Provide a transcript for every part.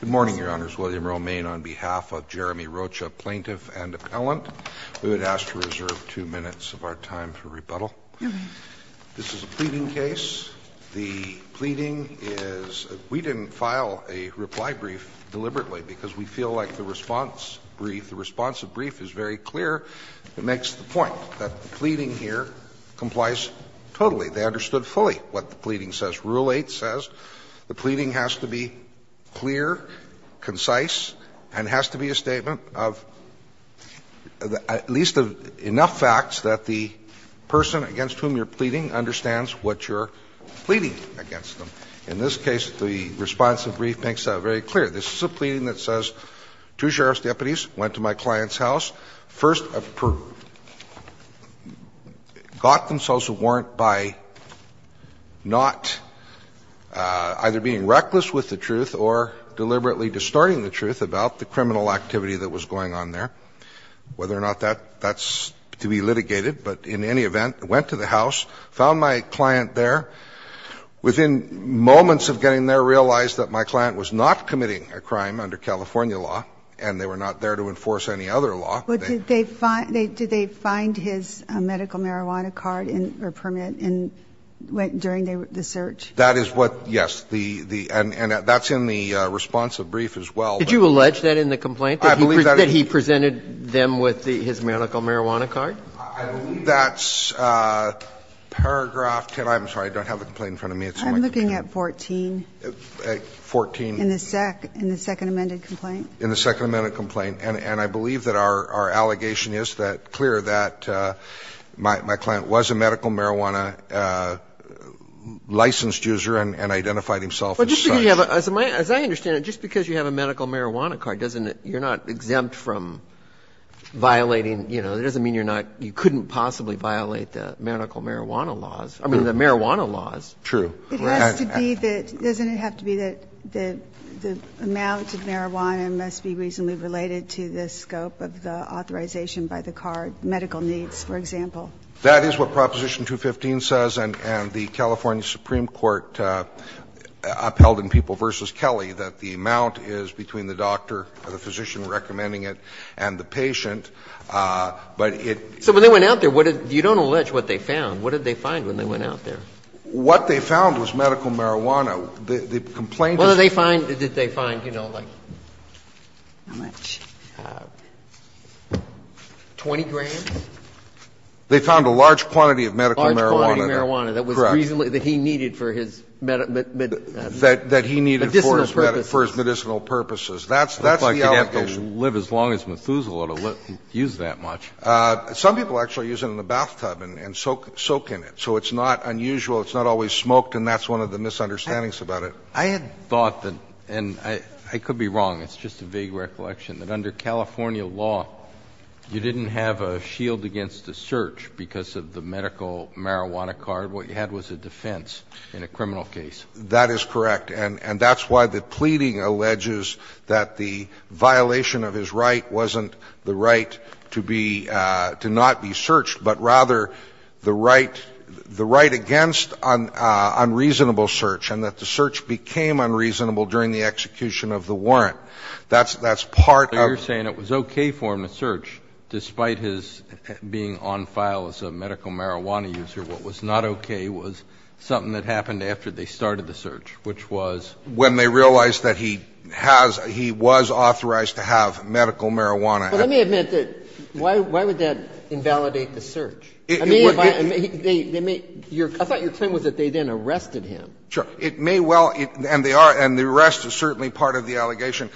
Good morning, Your Honors. William Romain on behalf of Jeremy Rocha, plaintiff and appellant. We would ask to reserve two minutes of our time for rebuttal. This is a pleading case. The pleading is we didn't file a reply brief deliberately because we feel like the response brief, the response of brief is very clear. It makes the point that the pleading here complies totally. They understood fully what the pleading says. Rule 8 says the pleading has to be clear, concise, and has to be a statement of at least enough facts that the person against whom you're pleading understands what you're pleading against them. In this case, the response of brief makes that very clear. This is a pleading that says two sheriff's deputies went to my client's house, first got themselves a warrant by not either being reckless with the truth or deliberately distorting the truth about the criminal activity that was going on there, whether or not that's to be litigated, but in any event, went to the house, found my client there, within moments of getting there realized that my client was not committing a crime under California law, and they were not there to enforce any other law. But did they find his medical marijuana card or permit during the search? That is what, yes, and that's in the response of brief as well. Did you allege that in the complaint, that he presented them with his medical marijuana card? I believe that's paragraph 10. I'm sorry, I don't have the complaint in front of me. I'm looking at 14. 14. In the second amended complaint? In the second amended complaint. And I believe that our allegation is that clear, that my client was a medical marijuana licensed user and identified himself as such. But just because you have a – as I understand it, just because you have a medical marijuana card, doesn't it – you're not exempt from violating, you know, it doesn't mean you're not – you couldn't possibly violate the medical marijuana laws, I mean, the marijuana laws. True. It has to be that – doesn't it have to be that the amount of marijuana must be reasonably related to the scope of the authorization by the card, medical needs, for example? That is what Proposition 215 says and the California Supreme Court upheld in People v. Kelly, that the amount is between the doctor or the physician recommending it and the patient, but it – So when they went out there, what did – you don't allege what they found. What did they find when they went out there? What they found was medical marijuana. The complaint is that – Well, did they find – did they find, you know, like, how much, 20 grand? They found a large quantity of medical marijuana. A large quantity of marijuana that was reasonably – that he needed for his medicinal purposes. That he needed for his medicinal purposes. That's the allegation. It looks like you'd have to live as long as Methuselah to use that much. Some people actually use it in the bathtub and soak in it. So it's not unusual, it's not always smoked, and that's one of the misunderstandings about it. I had thought that – and I could be wrong, it's just a vague recollection – that under California law, you didn't have a shield against a search because of the medical marijuana card. What you had was a defense in a criminal case. That is correct. And that's why the pleading alleges that the violation of his right wasn't the right to be – to not be searched, but rather the right – the right against an unreasonable search and that the search became unreasonable during the execution of the warrant. That's – that's part of the case. So you're saying it was okay for him to search despite his being on file as a medical marijuana user. What was not okay was something that happened after they started the search, which was? When they realized that he has – he was authorized to have medical marijuana. But let me admit that, why would that invalidate the search? I mean, if I – they may – your – I thought your claim was that they then arrested him. Sure. It may well – and they are, and the arrest is certainly part of the allegation.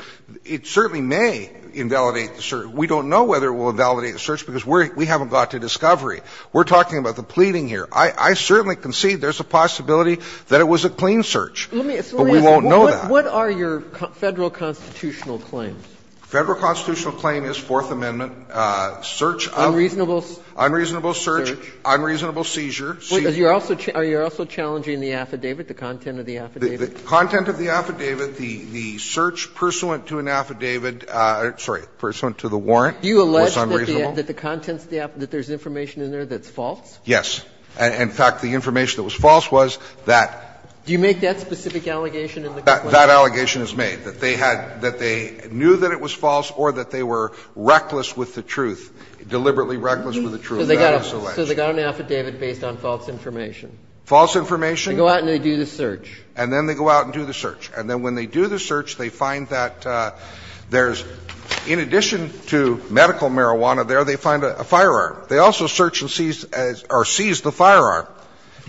It certainly may invalidate the search. We don't know whether it will invalidate the search because we haven't got to discovery. We're talking about the pleading here. I certainly concede there's a possibility that it was a clean search, but we won't know that. What are your Federal constitutional claims? Federal constitutional claim is Fourth Amendment search of – Unreasonable search. Unreasonable search, unreasonable seizure. Are you also challenging the affidavit, the content of the affidavit? The content of the affidavit, the search pursuant to an affidavit – sorry, pursuant to the warrant was unreasonable. Do you allege that the contents of the – that there's information in there that's false? Yes. In fact, the information that was false was that – Do you make that specific allegation in the complaint? That allegation is made, that they had – that they knew that it was false or that they were reckless with the truth, deliberately reckless with the truth. That is alleged. So they got an affidavit based on false information? False information? They go out and they do the search. And then they go out and do the search. And then when they do the search, they find that there's – in addition to medical marijuana there, they find a firearm. They also search and seize – or seize the firearm,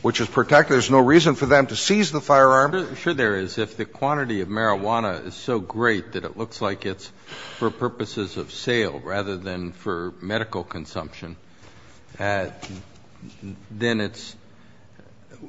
which is protected. There's no reason for them to seize the firearm. I'm not sure there is. If the quantity of marijuana is so great that it looks like it's for purposes of sale rather than for medical consumption, then it's –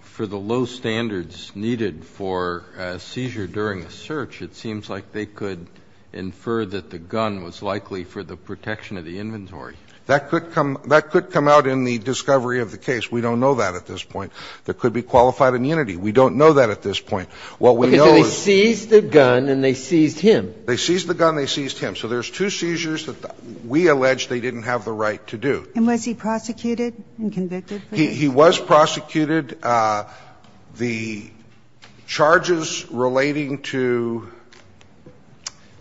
for the low standards needed for a seizure during a search, it seems like they could infer that the gun was likely for the protection of the inventory. That could come – that could come out in the discovery of the case. We don't know that at this point. There could be qualified immunity. We don't know that at this point. What we know is – Okay. So they seized the gun and they seized him. They seized the gun and they seized him. So there's two seizures that we allege they didn't have the right to do. And was he prosecuted and convicted for these? He was prosecuted. The charges relating to –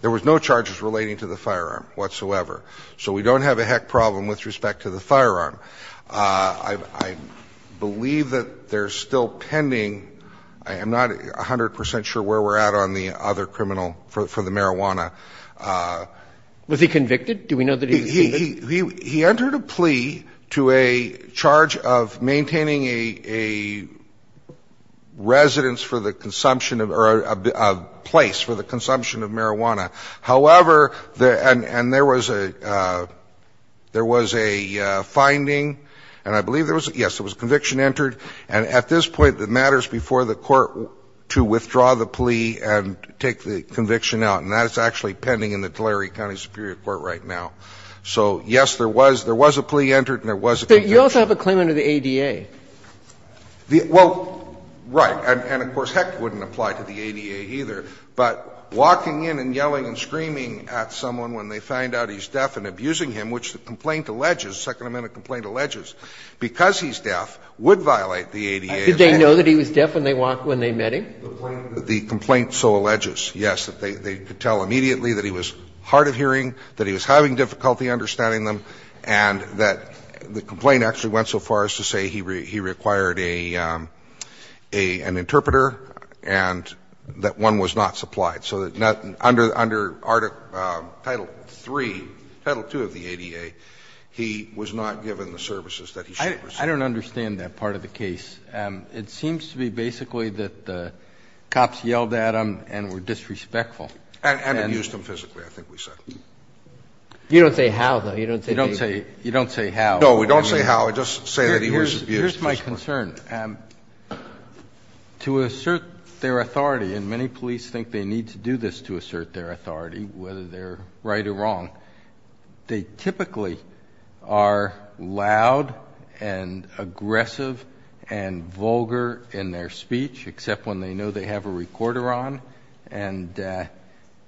there was no charges relating to the firearm whatsoever. So we don't have a heck problem with respect to the firearm. I believe that there's still pending – I am not 100 percent sure where we're at on the other criminal for the marijuana. Was he convicted? Do we know that he was convicted? He entered a plea to a charge of maintaining a residence for the consumption of – or a place for the consumption of marijuana. However, and there was a finding, and I believe there was – yes, there was a conviction entered, and at this point it matters before the court to withdraw the plea and take the conviction out. And that's actually pending in the Tulare County Superior Court right now. So, yes, there was a plea entered and there was a conviction. But you also have a claim under the ADA. Well, right, and of course, heck, it wouldn't apply to the ADA either. But walking in and yelling and screaming at someone when they find out he's deaf and abusing him, which the complaint alleges, the Second Amendment complaint alleges, because he's deaf would violate the ADA. Did they know that he was deaf when they met him? The complaint so alleges, yes, that they could tell immediately that he was hard of hearing, that he was having difficulty understanding them, and that the complaint actually went so far as to say he required a – an interpreter and that one was not supplied, so that under Article – Title III, Title II of the ADA, he was not given the services that he should have received. I don't understand that part of the case. It seems to be basically that the cops yelled at him and were disrespectful. And abused him physically, I think we said. You don't say how, though. You don't say how. You don't say how. No, we don't say how. I just say that he was abused physically. Here's my concern. To assert their authority, and many police think they need to do this to assert their authority, whether they're right or wrong, they typically are loud and aggressive and vulgar in their speech, except when they know they have a recorder on, and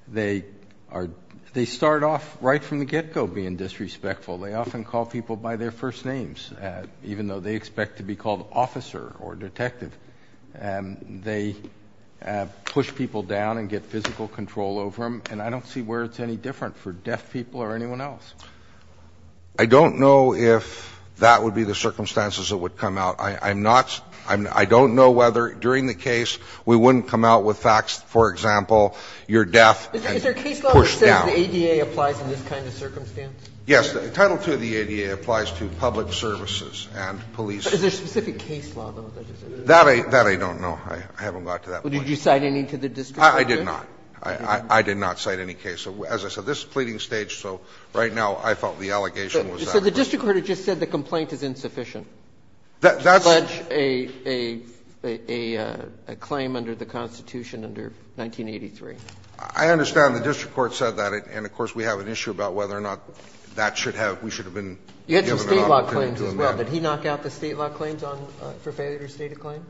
they are – they start off right from the get-go being disrespectful. They often call people by their first names, even though they expect to be called officer or detective. They push people down and get physical control over them, and I don't see where it's any different for deaf people or anyone else. I don't know if that would be the circumstances that would come out. I'm not – I don't know whether during the case we wouldn't come out with facts, for example, you're deaf and push down. Is there a case law that says the ADA applies in this kind of circumstance? Yes. Title II of the ADA applies to public services and police. Is there a specific case law, though, that just isn't there? That I don't know. I haven't got to that point. Did you cite any to the district court? I did not. I did not cite any case. As I said, this is a pleading stage, so right now I felt the allegation was that. So the district court had just said the complaint is insufficient to pledge a claim under the Constitution under 1983. I understand the district court said that, and of course, we have an issue about whether or not that should have – we should have been given an opportunity to amend it. You had some State law claims as well. Did he knock out the State law claims on – for failure to state a claim?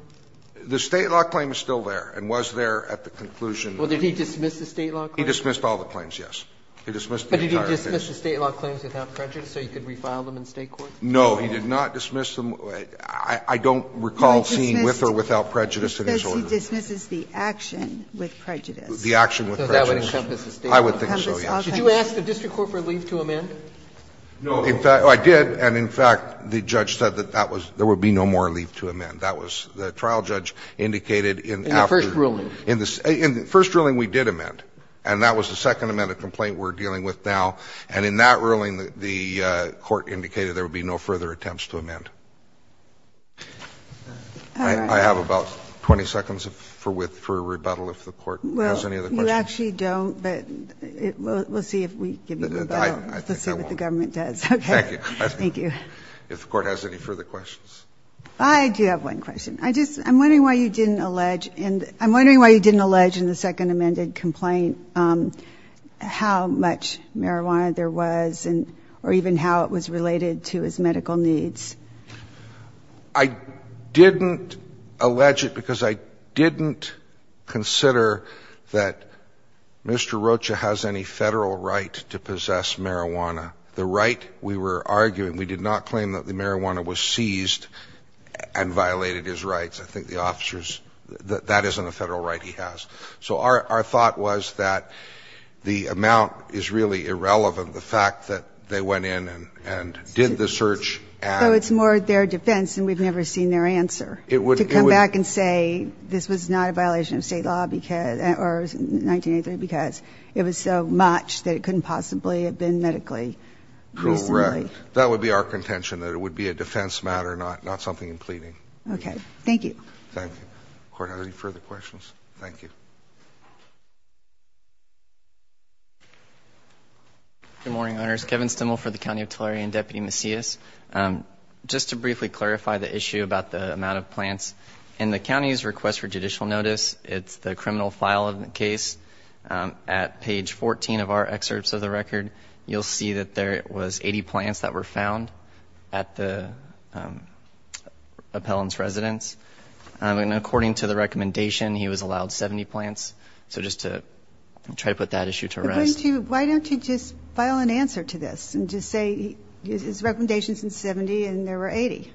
The State law claim is still there and was there at the conclusion. Well, did he dismiss the State law claims? He dismissed all the claims, yes. He dismissed the entire case. But did he dismiss the State law claims without prejudice so he could refile them in State court? No, he did not dismiss them. I don't recall seeing with or without prejudice in his order. He says he dismisses the action with prejudice. The action with prejudice. So that would encompass the State law. I would think so, yes. Did you ask the district court for leave to amend? No, I did, and in fact, the judge said that that was – there would be no more leave to amend. That was – the trial judge indicated in after – In the first ruling. In the first ruling, we did amend. And that was the second amendment complaint we're dealing with now. And in that ruling, the court indicated there would be no further attempts to amend. I have about 20 seconds for rebuttal if the Court has any other questions. We actually don't, but we'll see if we give you a rebuttal to see what the government does. Thank you. Thank you. If the Court has any further questions. I do have one question. I just – I'm wondering why you didn't allege in the second amended complaint how much marijuana there was and – or even how it was related to his medical needs. I didn't allege it because I didn't consider that Mr. Rocha has any Federal right to possess marijuana, the right we were arguing. We did not claim that the marijuana was seized and violated his rights. I think the officers – that isn't a Federal right he has. So our – our thought was that the amount is really irrelevant, the fact that they went in and – and did the search and – So it's more their defense and we've never seen their answer. It would – To come back and say this was not a violation of State law because – or 1983 because it was so much that it couldn't possibly have been medically reasonably. Correct. That would be our contention, that it would be a defense matter, not something in pleading. Okay. Thank you. Thank you. If the Court has any further questions. Thank you. Good morning, Your Honors. Kevin Stimmel for the County of Tulare and Deputy Macias. Just to briefly clarify the issue about the amount of plants, in the county's request for judicial notice, it's the criminal file of the case. At page 14 of our excerpts of the record, you'll see that there was 80 plants that were found at the appellant's residence. And according to the recommendation, he was allowed 70 plants. So just to try to put that issue to rest. Why don't you just file an answer to this and just say his recommendation is 70 and there were 80?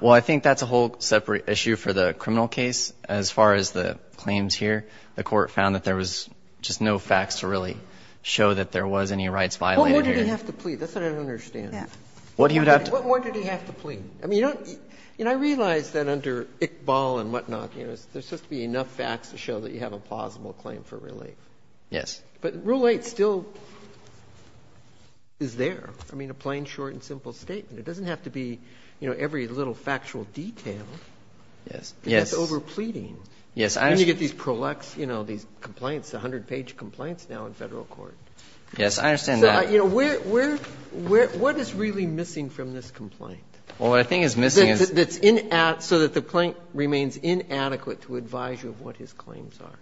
Well, I think that's a whole separate issue for the criminal case. As far as the claims here, the Court found that there was just no facts to really show that there was any rights violated here. What more did he have to plead? That's what I don't understand. What more did he have to plead? I mean, you don't – you know, I realize that under Iqbal and whatnot, you know, there's supposed to be enough facts to show that you have a plausible claim for relief. Yes. But Rule 8 still is there. I mean, a plain, short and simple statement. It doesn't have to be, you know, every little factual detail. Yes. Yes. It's over pleading. Yes. And you get these prolux, you know, these complaints, the 100-page complaints now in Federal court. Yes. I understand that. You know, where – what is really missing from this complaint? Well, what I think is missing is – That's in – so that the plaintant remains inadequate to advise you of what his claims are.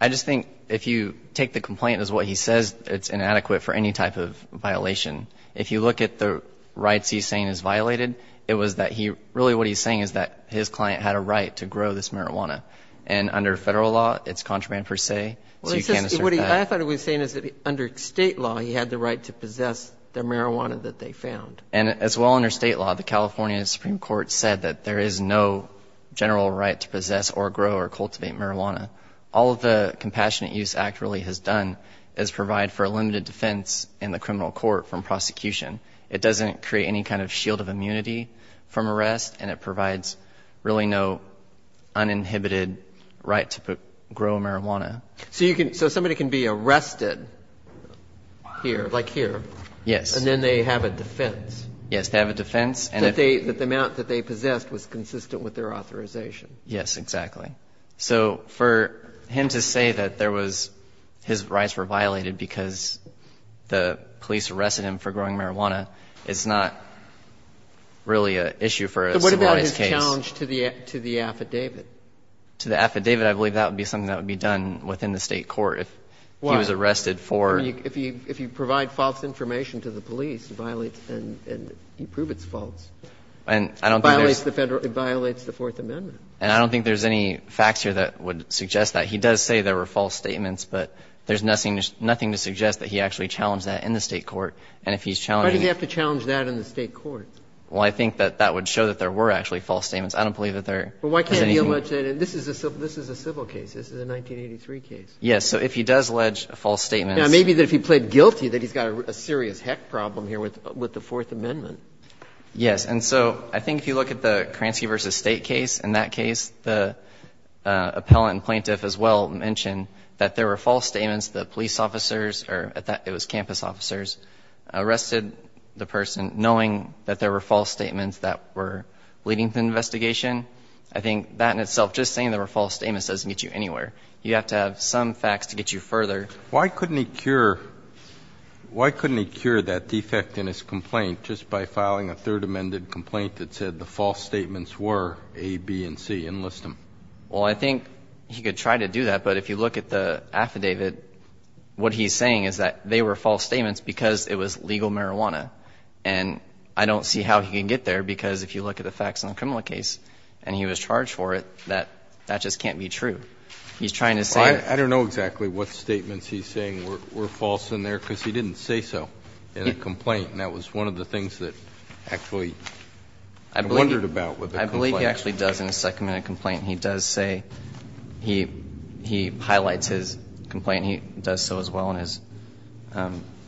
I just think if you take the complaint as what he says, it's inadequate for any type of violation. If you look at the rights he's saying is violated, it was that he – really what he's saying is that his client had a right to grow this marijuana. And under Federal law, it's contraband per se, so you can't assert that. I thought what he was saying is that under State law, he had the right to possess the marijuana that they found. And as well under State law, the California Supreme Court said that there is no general right to possess or grow or cultivate marijuana. All of the Compassionate Use Act really has done is provide for a limited defense in the criminal court from prosecution. It doesn't create any kind of shield of immunity from arrest, and it provides really no uninhibited right to grow marijuana. So you can – so somebody can be arrested here, like here. Yes. And then they have a defense. Yes, they have a defense. That the amount that they possessed was consistent with their authorization. Yes, exactly. So for him to say that there was – his rights were violated because the police arrested him for growing marijuana is not really an issue for a civil rights case. But what about his challenge to the affidavit? To the affidavit, I believe that would be something that would be done within the State court if he was arrested for – Or if you provide false information to the police, it violates and you prove it's false. And I don't think there's – It violates the Federal – it violates the Fourth Amendment. And I don't think there's any facts here that would suggest that. He does say there were false statements, but there's nothing to suggest that he actually challenged that in the State court. And if he's challenging – Why did he have to challenge that in the State court? Well, I think that that would show that there were actually false statements. I don't believe that there is anything – Well, why can't he allege that in – this is a civil case. This is a 1983 case. Yes. So if he does allege false statements – Now, maybe that if he pled guilty, that he's got a serious heck problem here with the Fourth Amendment. Yes. And so I think if you look at the Kransky v. State case, in that case, the appellant and plaintiff as well mentioned that there were false statements that police officers or that it was campus officers arrested the person knowing that there were false statements that were leading to the investigation. I think that in itself, just saying there were false statements doesn't get you anywhere. You have to have some facts to get you further. Why couldn't he cure – why couldn't he cure that defect in his complaint just by filing a Third Amendment complaint that said the false statements were A, B, and C, enlist them? Well, I think he could try to do that, but if you look at the affidavit, what he's saying is that they were false statements because it was legal marijuana. And I don't see how he can get there because if you look at the facts in the criminal case and he was charged for it, that just can't be true. He's trying to say – I don't know exactly what statements he's saying were false in there because he didn't say so in the complaint and that was one of the things that actually I wondered about with the complaint. I believe he actually does in his second-minute complaint, he does say – he highlights his complaint, he does so as well in his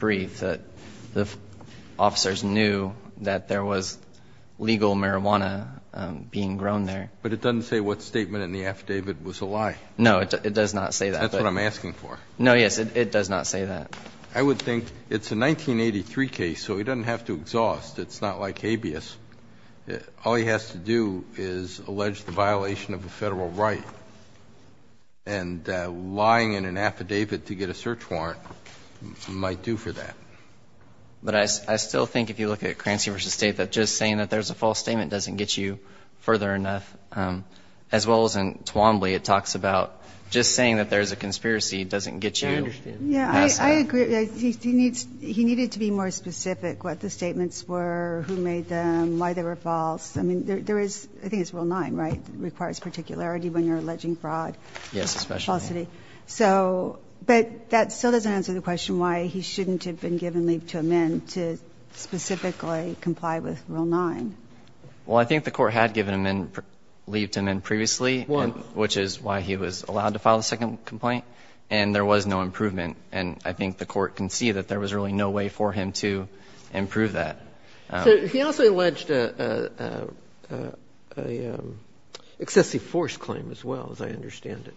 brief that the officers knew that there was legal marijuana being grown there. But it doesn't say what statement in the affidavit was a lie. No, it does not say that. That's what I'm asking for. No, yes, it does not say that. I would think it's a 1983 case, so he doesn't have to exhaust. It's not like habeas. All he has to do is allege the violation of a Federal right and lying in an affidavit to get a search warrant might do for that. But I still think if you look at Crancy v. State that just saying that there's a false statement doesn't get you further enough, as well as in Twombly, it talks about just saying that there's a conspiracy doesn't get you – I understand. Yeah, I agree. He needs – he needed to be more specific what the statements were, who made them, why they were false. I mean, there is – I think it's Rule 9, right, requires particularity when you're alleging fraud. Yes, especially. Falsity. So – but that still doesn't answer the question why he shouldn't have been given leave to amend to specifically comply with Rule 9. Well, I think the Court had given him leave to amend previously, which is why he was allowed to file the second complaint, and there was no improvement. And I think the Court can see that there was really no way for him to improve that. So he also alleged an excessive force claim, as well, as I understand it,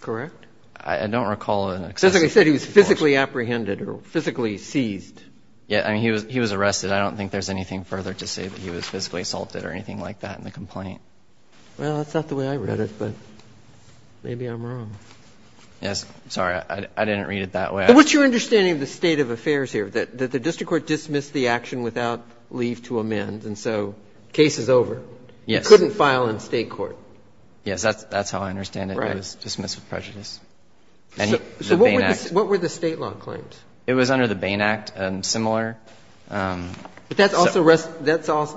correct? I don't recall an excessive force claim. So, like I said, he was physically apprehended or physically seized. Yeah. I mean, he was – he was arrested. I don't think there's anything further to say that he was physically assaulted or anything like that in the complaint. Well, that's not the way I read it, but maybe I'm wrong. Yes. I'm sorry. I didn't read it that way. What's your understanding of the state of affairs here, that the district court dismissed the action without leave to amend, and so the case is over? Yes. He couldn't file in State court. Yes. That's how I understand it. Right. It was dismissed with prejudice. So what were the State law claims? It was under the Bain Act and similar. But that's also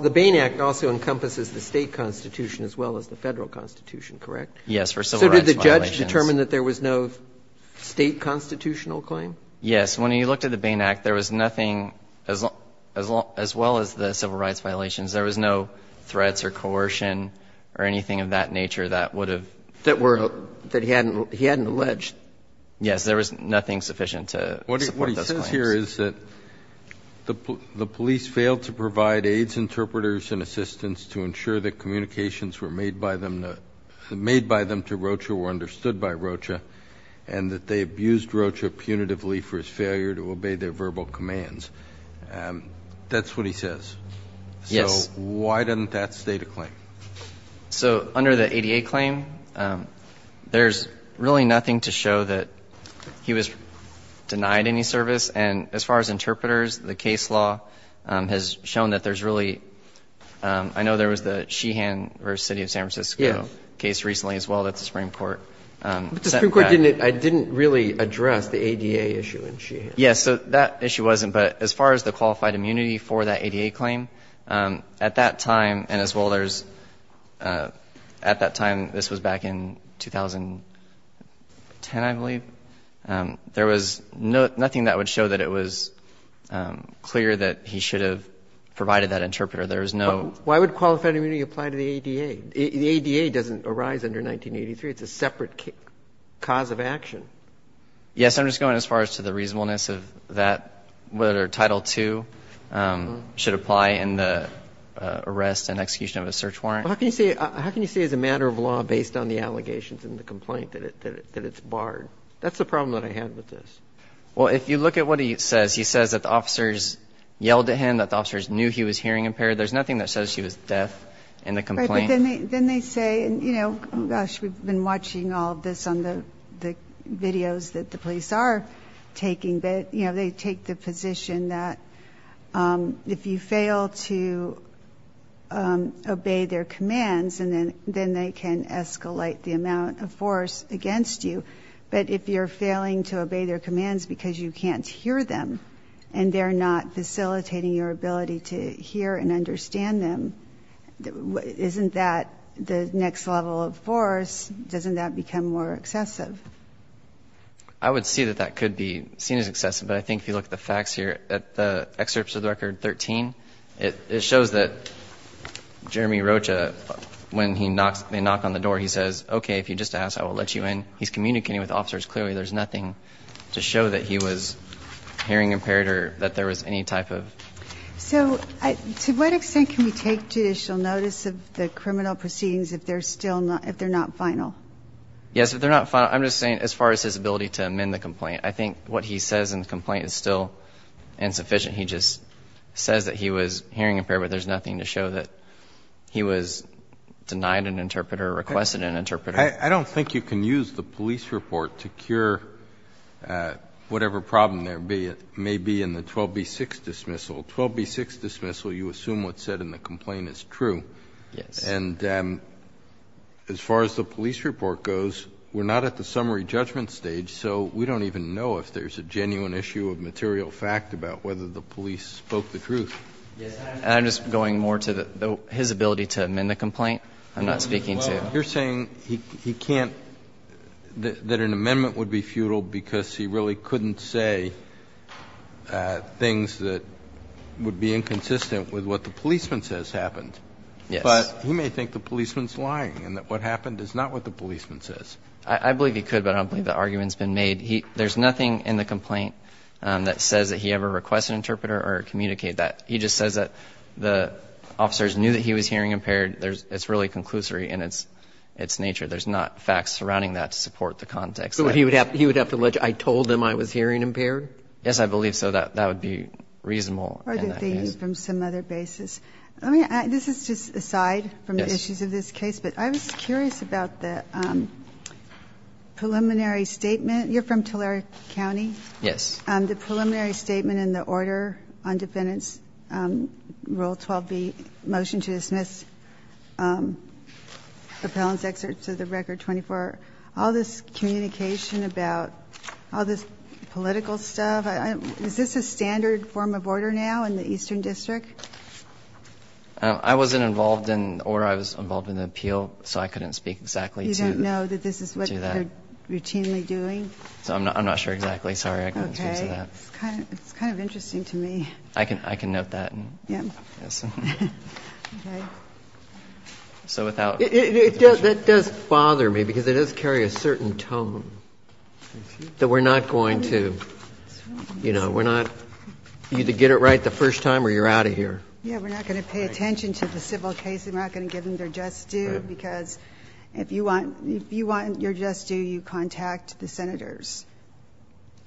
– the Bain Act also encompasses the State constitution as well as the Federal constitution, correct? Yes, for civil rights violations. So did the judge determine that there was no State constitutional claim? Yes. When he looked at the Bain Act, there was nothing – as well as the civil rights violations, there was no threats or coercion or anything of that nature that would have – that were – that he hadn't alleged. Yes. There was nothing sufficient to support those claims. What he says here is that the police failed to provide aides, interpreters, and assistants to ensure that communications were made by them to – made by them to Rocha were understood by Rocha, and that they abused Rocha punitively for his failure to obey their verbal commands. That's what he says. Yes. So why doesn't that state a claim? So under the ADA claim, there's really nothing to show that he was denied any service. And as far as interpreters, the case law has shown that there's really – I know there was the Sheehan versus City of San Francisco case recently as well that the Supreme Court sent back. But the Supreme Court didn't really address the ADA issue in Sheehan. Yes. So that issue wasn't. But as far as the qualified immunity for that ADA claim, at that time – and as well, there's – at that time – this was back in 2010, I believe – there was nothing that would show that it was clear that he should have provided that interpreter. There was no – Why would qualified immunity apply to the ADA? The ADA doesn't arise under 1983. It's a separate cause of action. Yes. I'm just going as far as to the reasonableness of that – whether Title II should apply in the arrest and execution of a search warrant. How can you say – how can you say as a matter of law based on the allegations in the complaint that it's barred? That's the problem that I had with this. Well, if you look at what he says, he says that the officers yelled at him, that the officers knew he was hearing impaired. There's nothing that says he was deaf in the complaint. Right. But then they say – and, you know, gosh, we've been watching all of this on the videos that the police are taking – but, you know, they take the position that if you fail to obey their commands, then they can escalate the amount of force against you. But if you're failing to obey their commands because you can't hear them and they're not facilitating your ability to hear and understand them, isn't that the next level of force? Doesn't that become more excessive? I would see that that could be seen as excessive. But I think if you look at the facts here, at the excerpts of the record 13, it shows that Jeremy Rocha, when he knocks – they knock on the door, he says, okay, if you just ask, I will let you in. He's communicating with the officers clearly. There's nothing to show that he was hearing impaired or that there was any type of – So to what extent can we take judicial notice of the criminal proceedings if they're not final? Yes, if they're not final. I'm just saying as far as his ability to amend the complaint, I think what he says in the complaint is still insufficient. He just says that he was hearing impaired, but there's nothing to show that he was denied an interpreter, requested an interpreter. I don't think you can use the police report to cure whatever problem there may be in the 12B6 dismissal. 12B6 dismissal, you assume what's said in the complaint is true. Yes. And as far as the police report goes, we're not at the summary judgment stage, so we don't even know if there's a genuine issue of material fact about whether the police spoke the truth. Yes. And I'm just going more to his ability to amend the complaint, I'm not speaking to – You're saying he can't – that an amendment would be futile because he really couldn't say things that would be inconsistent with what the policeman says happened. Yes. But he may think the policeman's lying and that what happened is not what the policeman says. I believe he could, but I don't believe the argument's been made. There's nothing in the complaint that says that he ever requested an interpreter or communicated that. He just says that the officers knew that he was hearing impaired. It's really conclusory in its nature. There's not facts surrounding that to support the context. So he would have to allege, I told them I was hearing impaired? Yes, I believe so. That would be reasonable. Or did they use from some other basis? Let me – this is just aside from the issues of this case, but I was curious about the preliminary statement. You're from Tulare County? Yes. Appellant's excerpt to the Record 24. All this communication about – all this political stuff – is this a standard form of order now in the Eastern District? I wasn't involved in – or I was involved in the appeal, so I couldn't speak exactly to that. You don't know that this is what they're routinely doing? I'm not sure exactly. Sorry. I couldn't speak to that. Okay. It's kind of interesting to me. I can note that. Yes. Okay. So without – It does – that does bother me because it does carry a certain tone that we're not going to – you know, we're not – you either get it right the first time or you're out of here. Yeah, we're not going to pay attention to the civil case. We're not going to give them their just due because if you want – if you want your just due, you contact the Senators.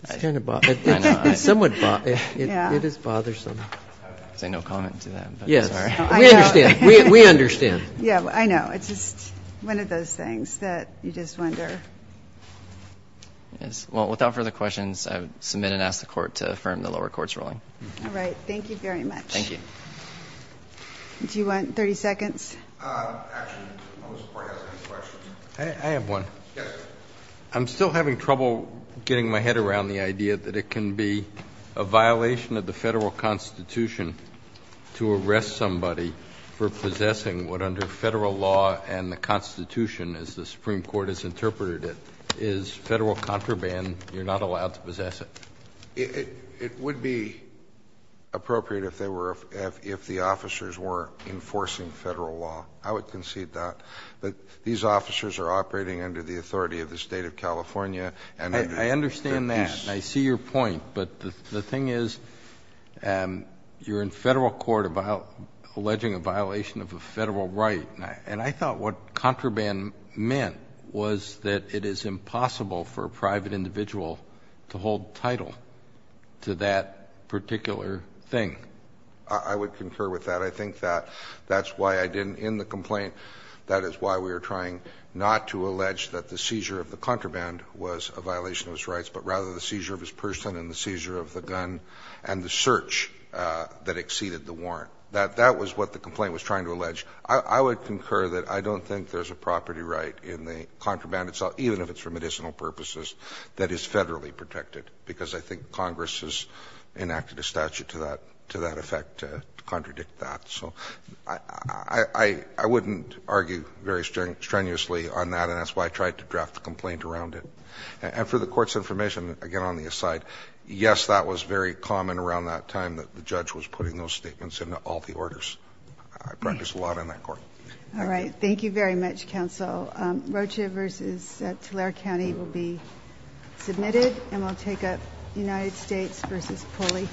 It's kind of – it's somewhat – it is bothersome. I would say no comment to that, but I'm sorry. We understand. We understand. Yeah. I know. It's just one of those things that you just wonder. Yes. Well, without further questions, I would submit and ask the Court to affirm the lower court's ruling. All right. Thank you very much. Thank you. Do you want 30 seconds? Actually, I don't know if the Court has any questions. I have one. Yes. I'm still having trouble getting my head around the idea that it can be a violation of the Federal Constitution to arrest somebody for possessing what under Federal law and the Constitution, as the Supreme Court has interpreted it, is Federal contraband. You're not allowed to possess it. It would be appropriate if they were – if the officers were enforcing Federal law. I would concede that. But these officers are operating under the authority of the State of California. I understand that. And I see your point. But the thing is, you're in Federal court about alleging a violation of a Federal right. And I thought what contraband meant was that it is impossible for a private individual to hold title to that particular thing. I would concur with that. I think that's why I didn't – in the complaint, that is why we are trying not to the seizure of his person and the seizure of the gun and the search that exceeded the warrant. That was what the complaint was trying to allege. I would concur that I don't think there's a property right in the contraband itself, even if it's for medicinal purposes, that is Federally protected, because I think Congress has enacted a statute to that effect to contradict that. So I wouldn't argue very strenuously on that, and that's why I tried to draft the complaint around it. And for the Court's information, again, on the aside, yes, that was very common around that time that the judge was putting those statements into all the orders. I practiced a lot in that court. All right. Thank you very much, Counsel. Rocha v. Tulare County will be submitted. And we'll take up United States v. Pulley.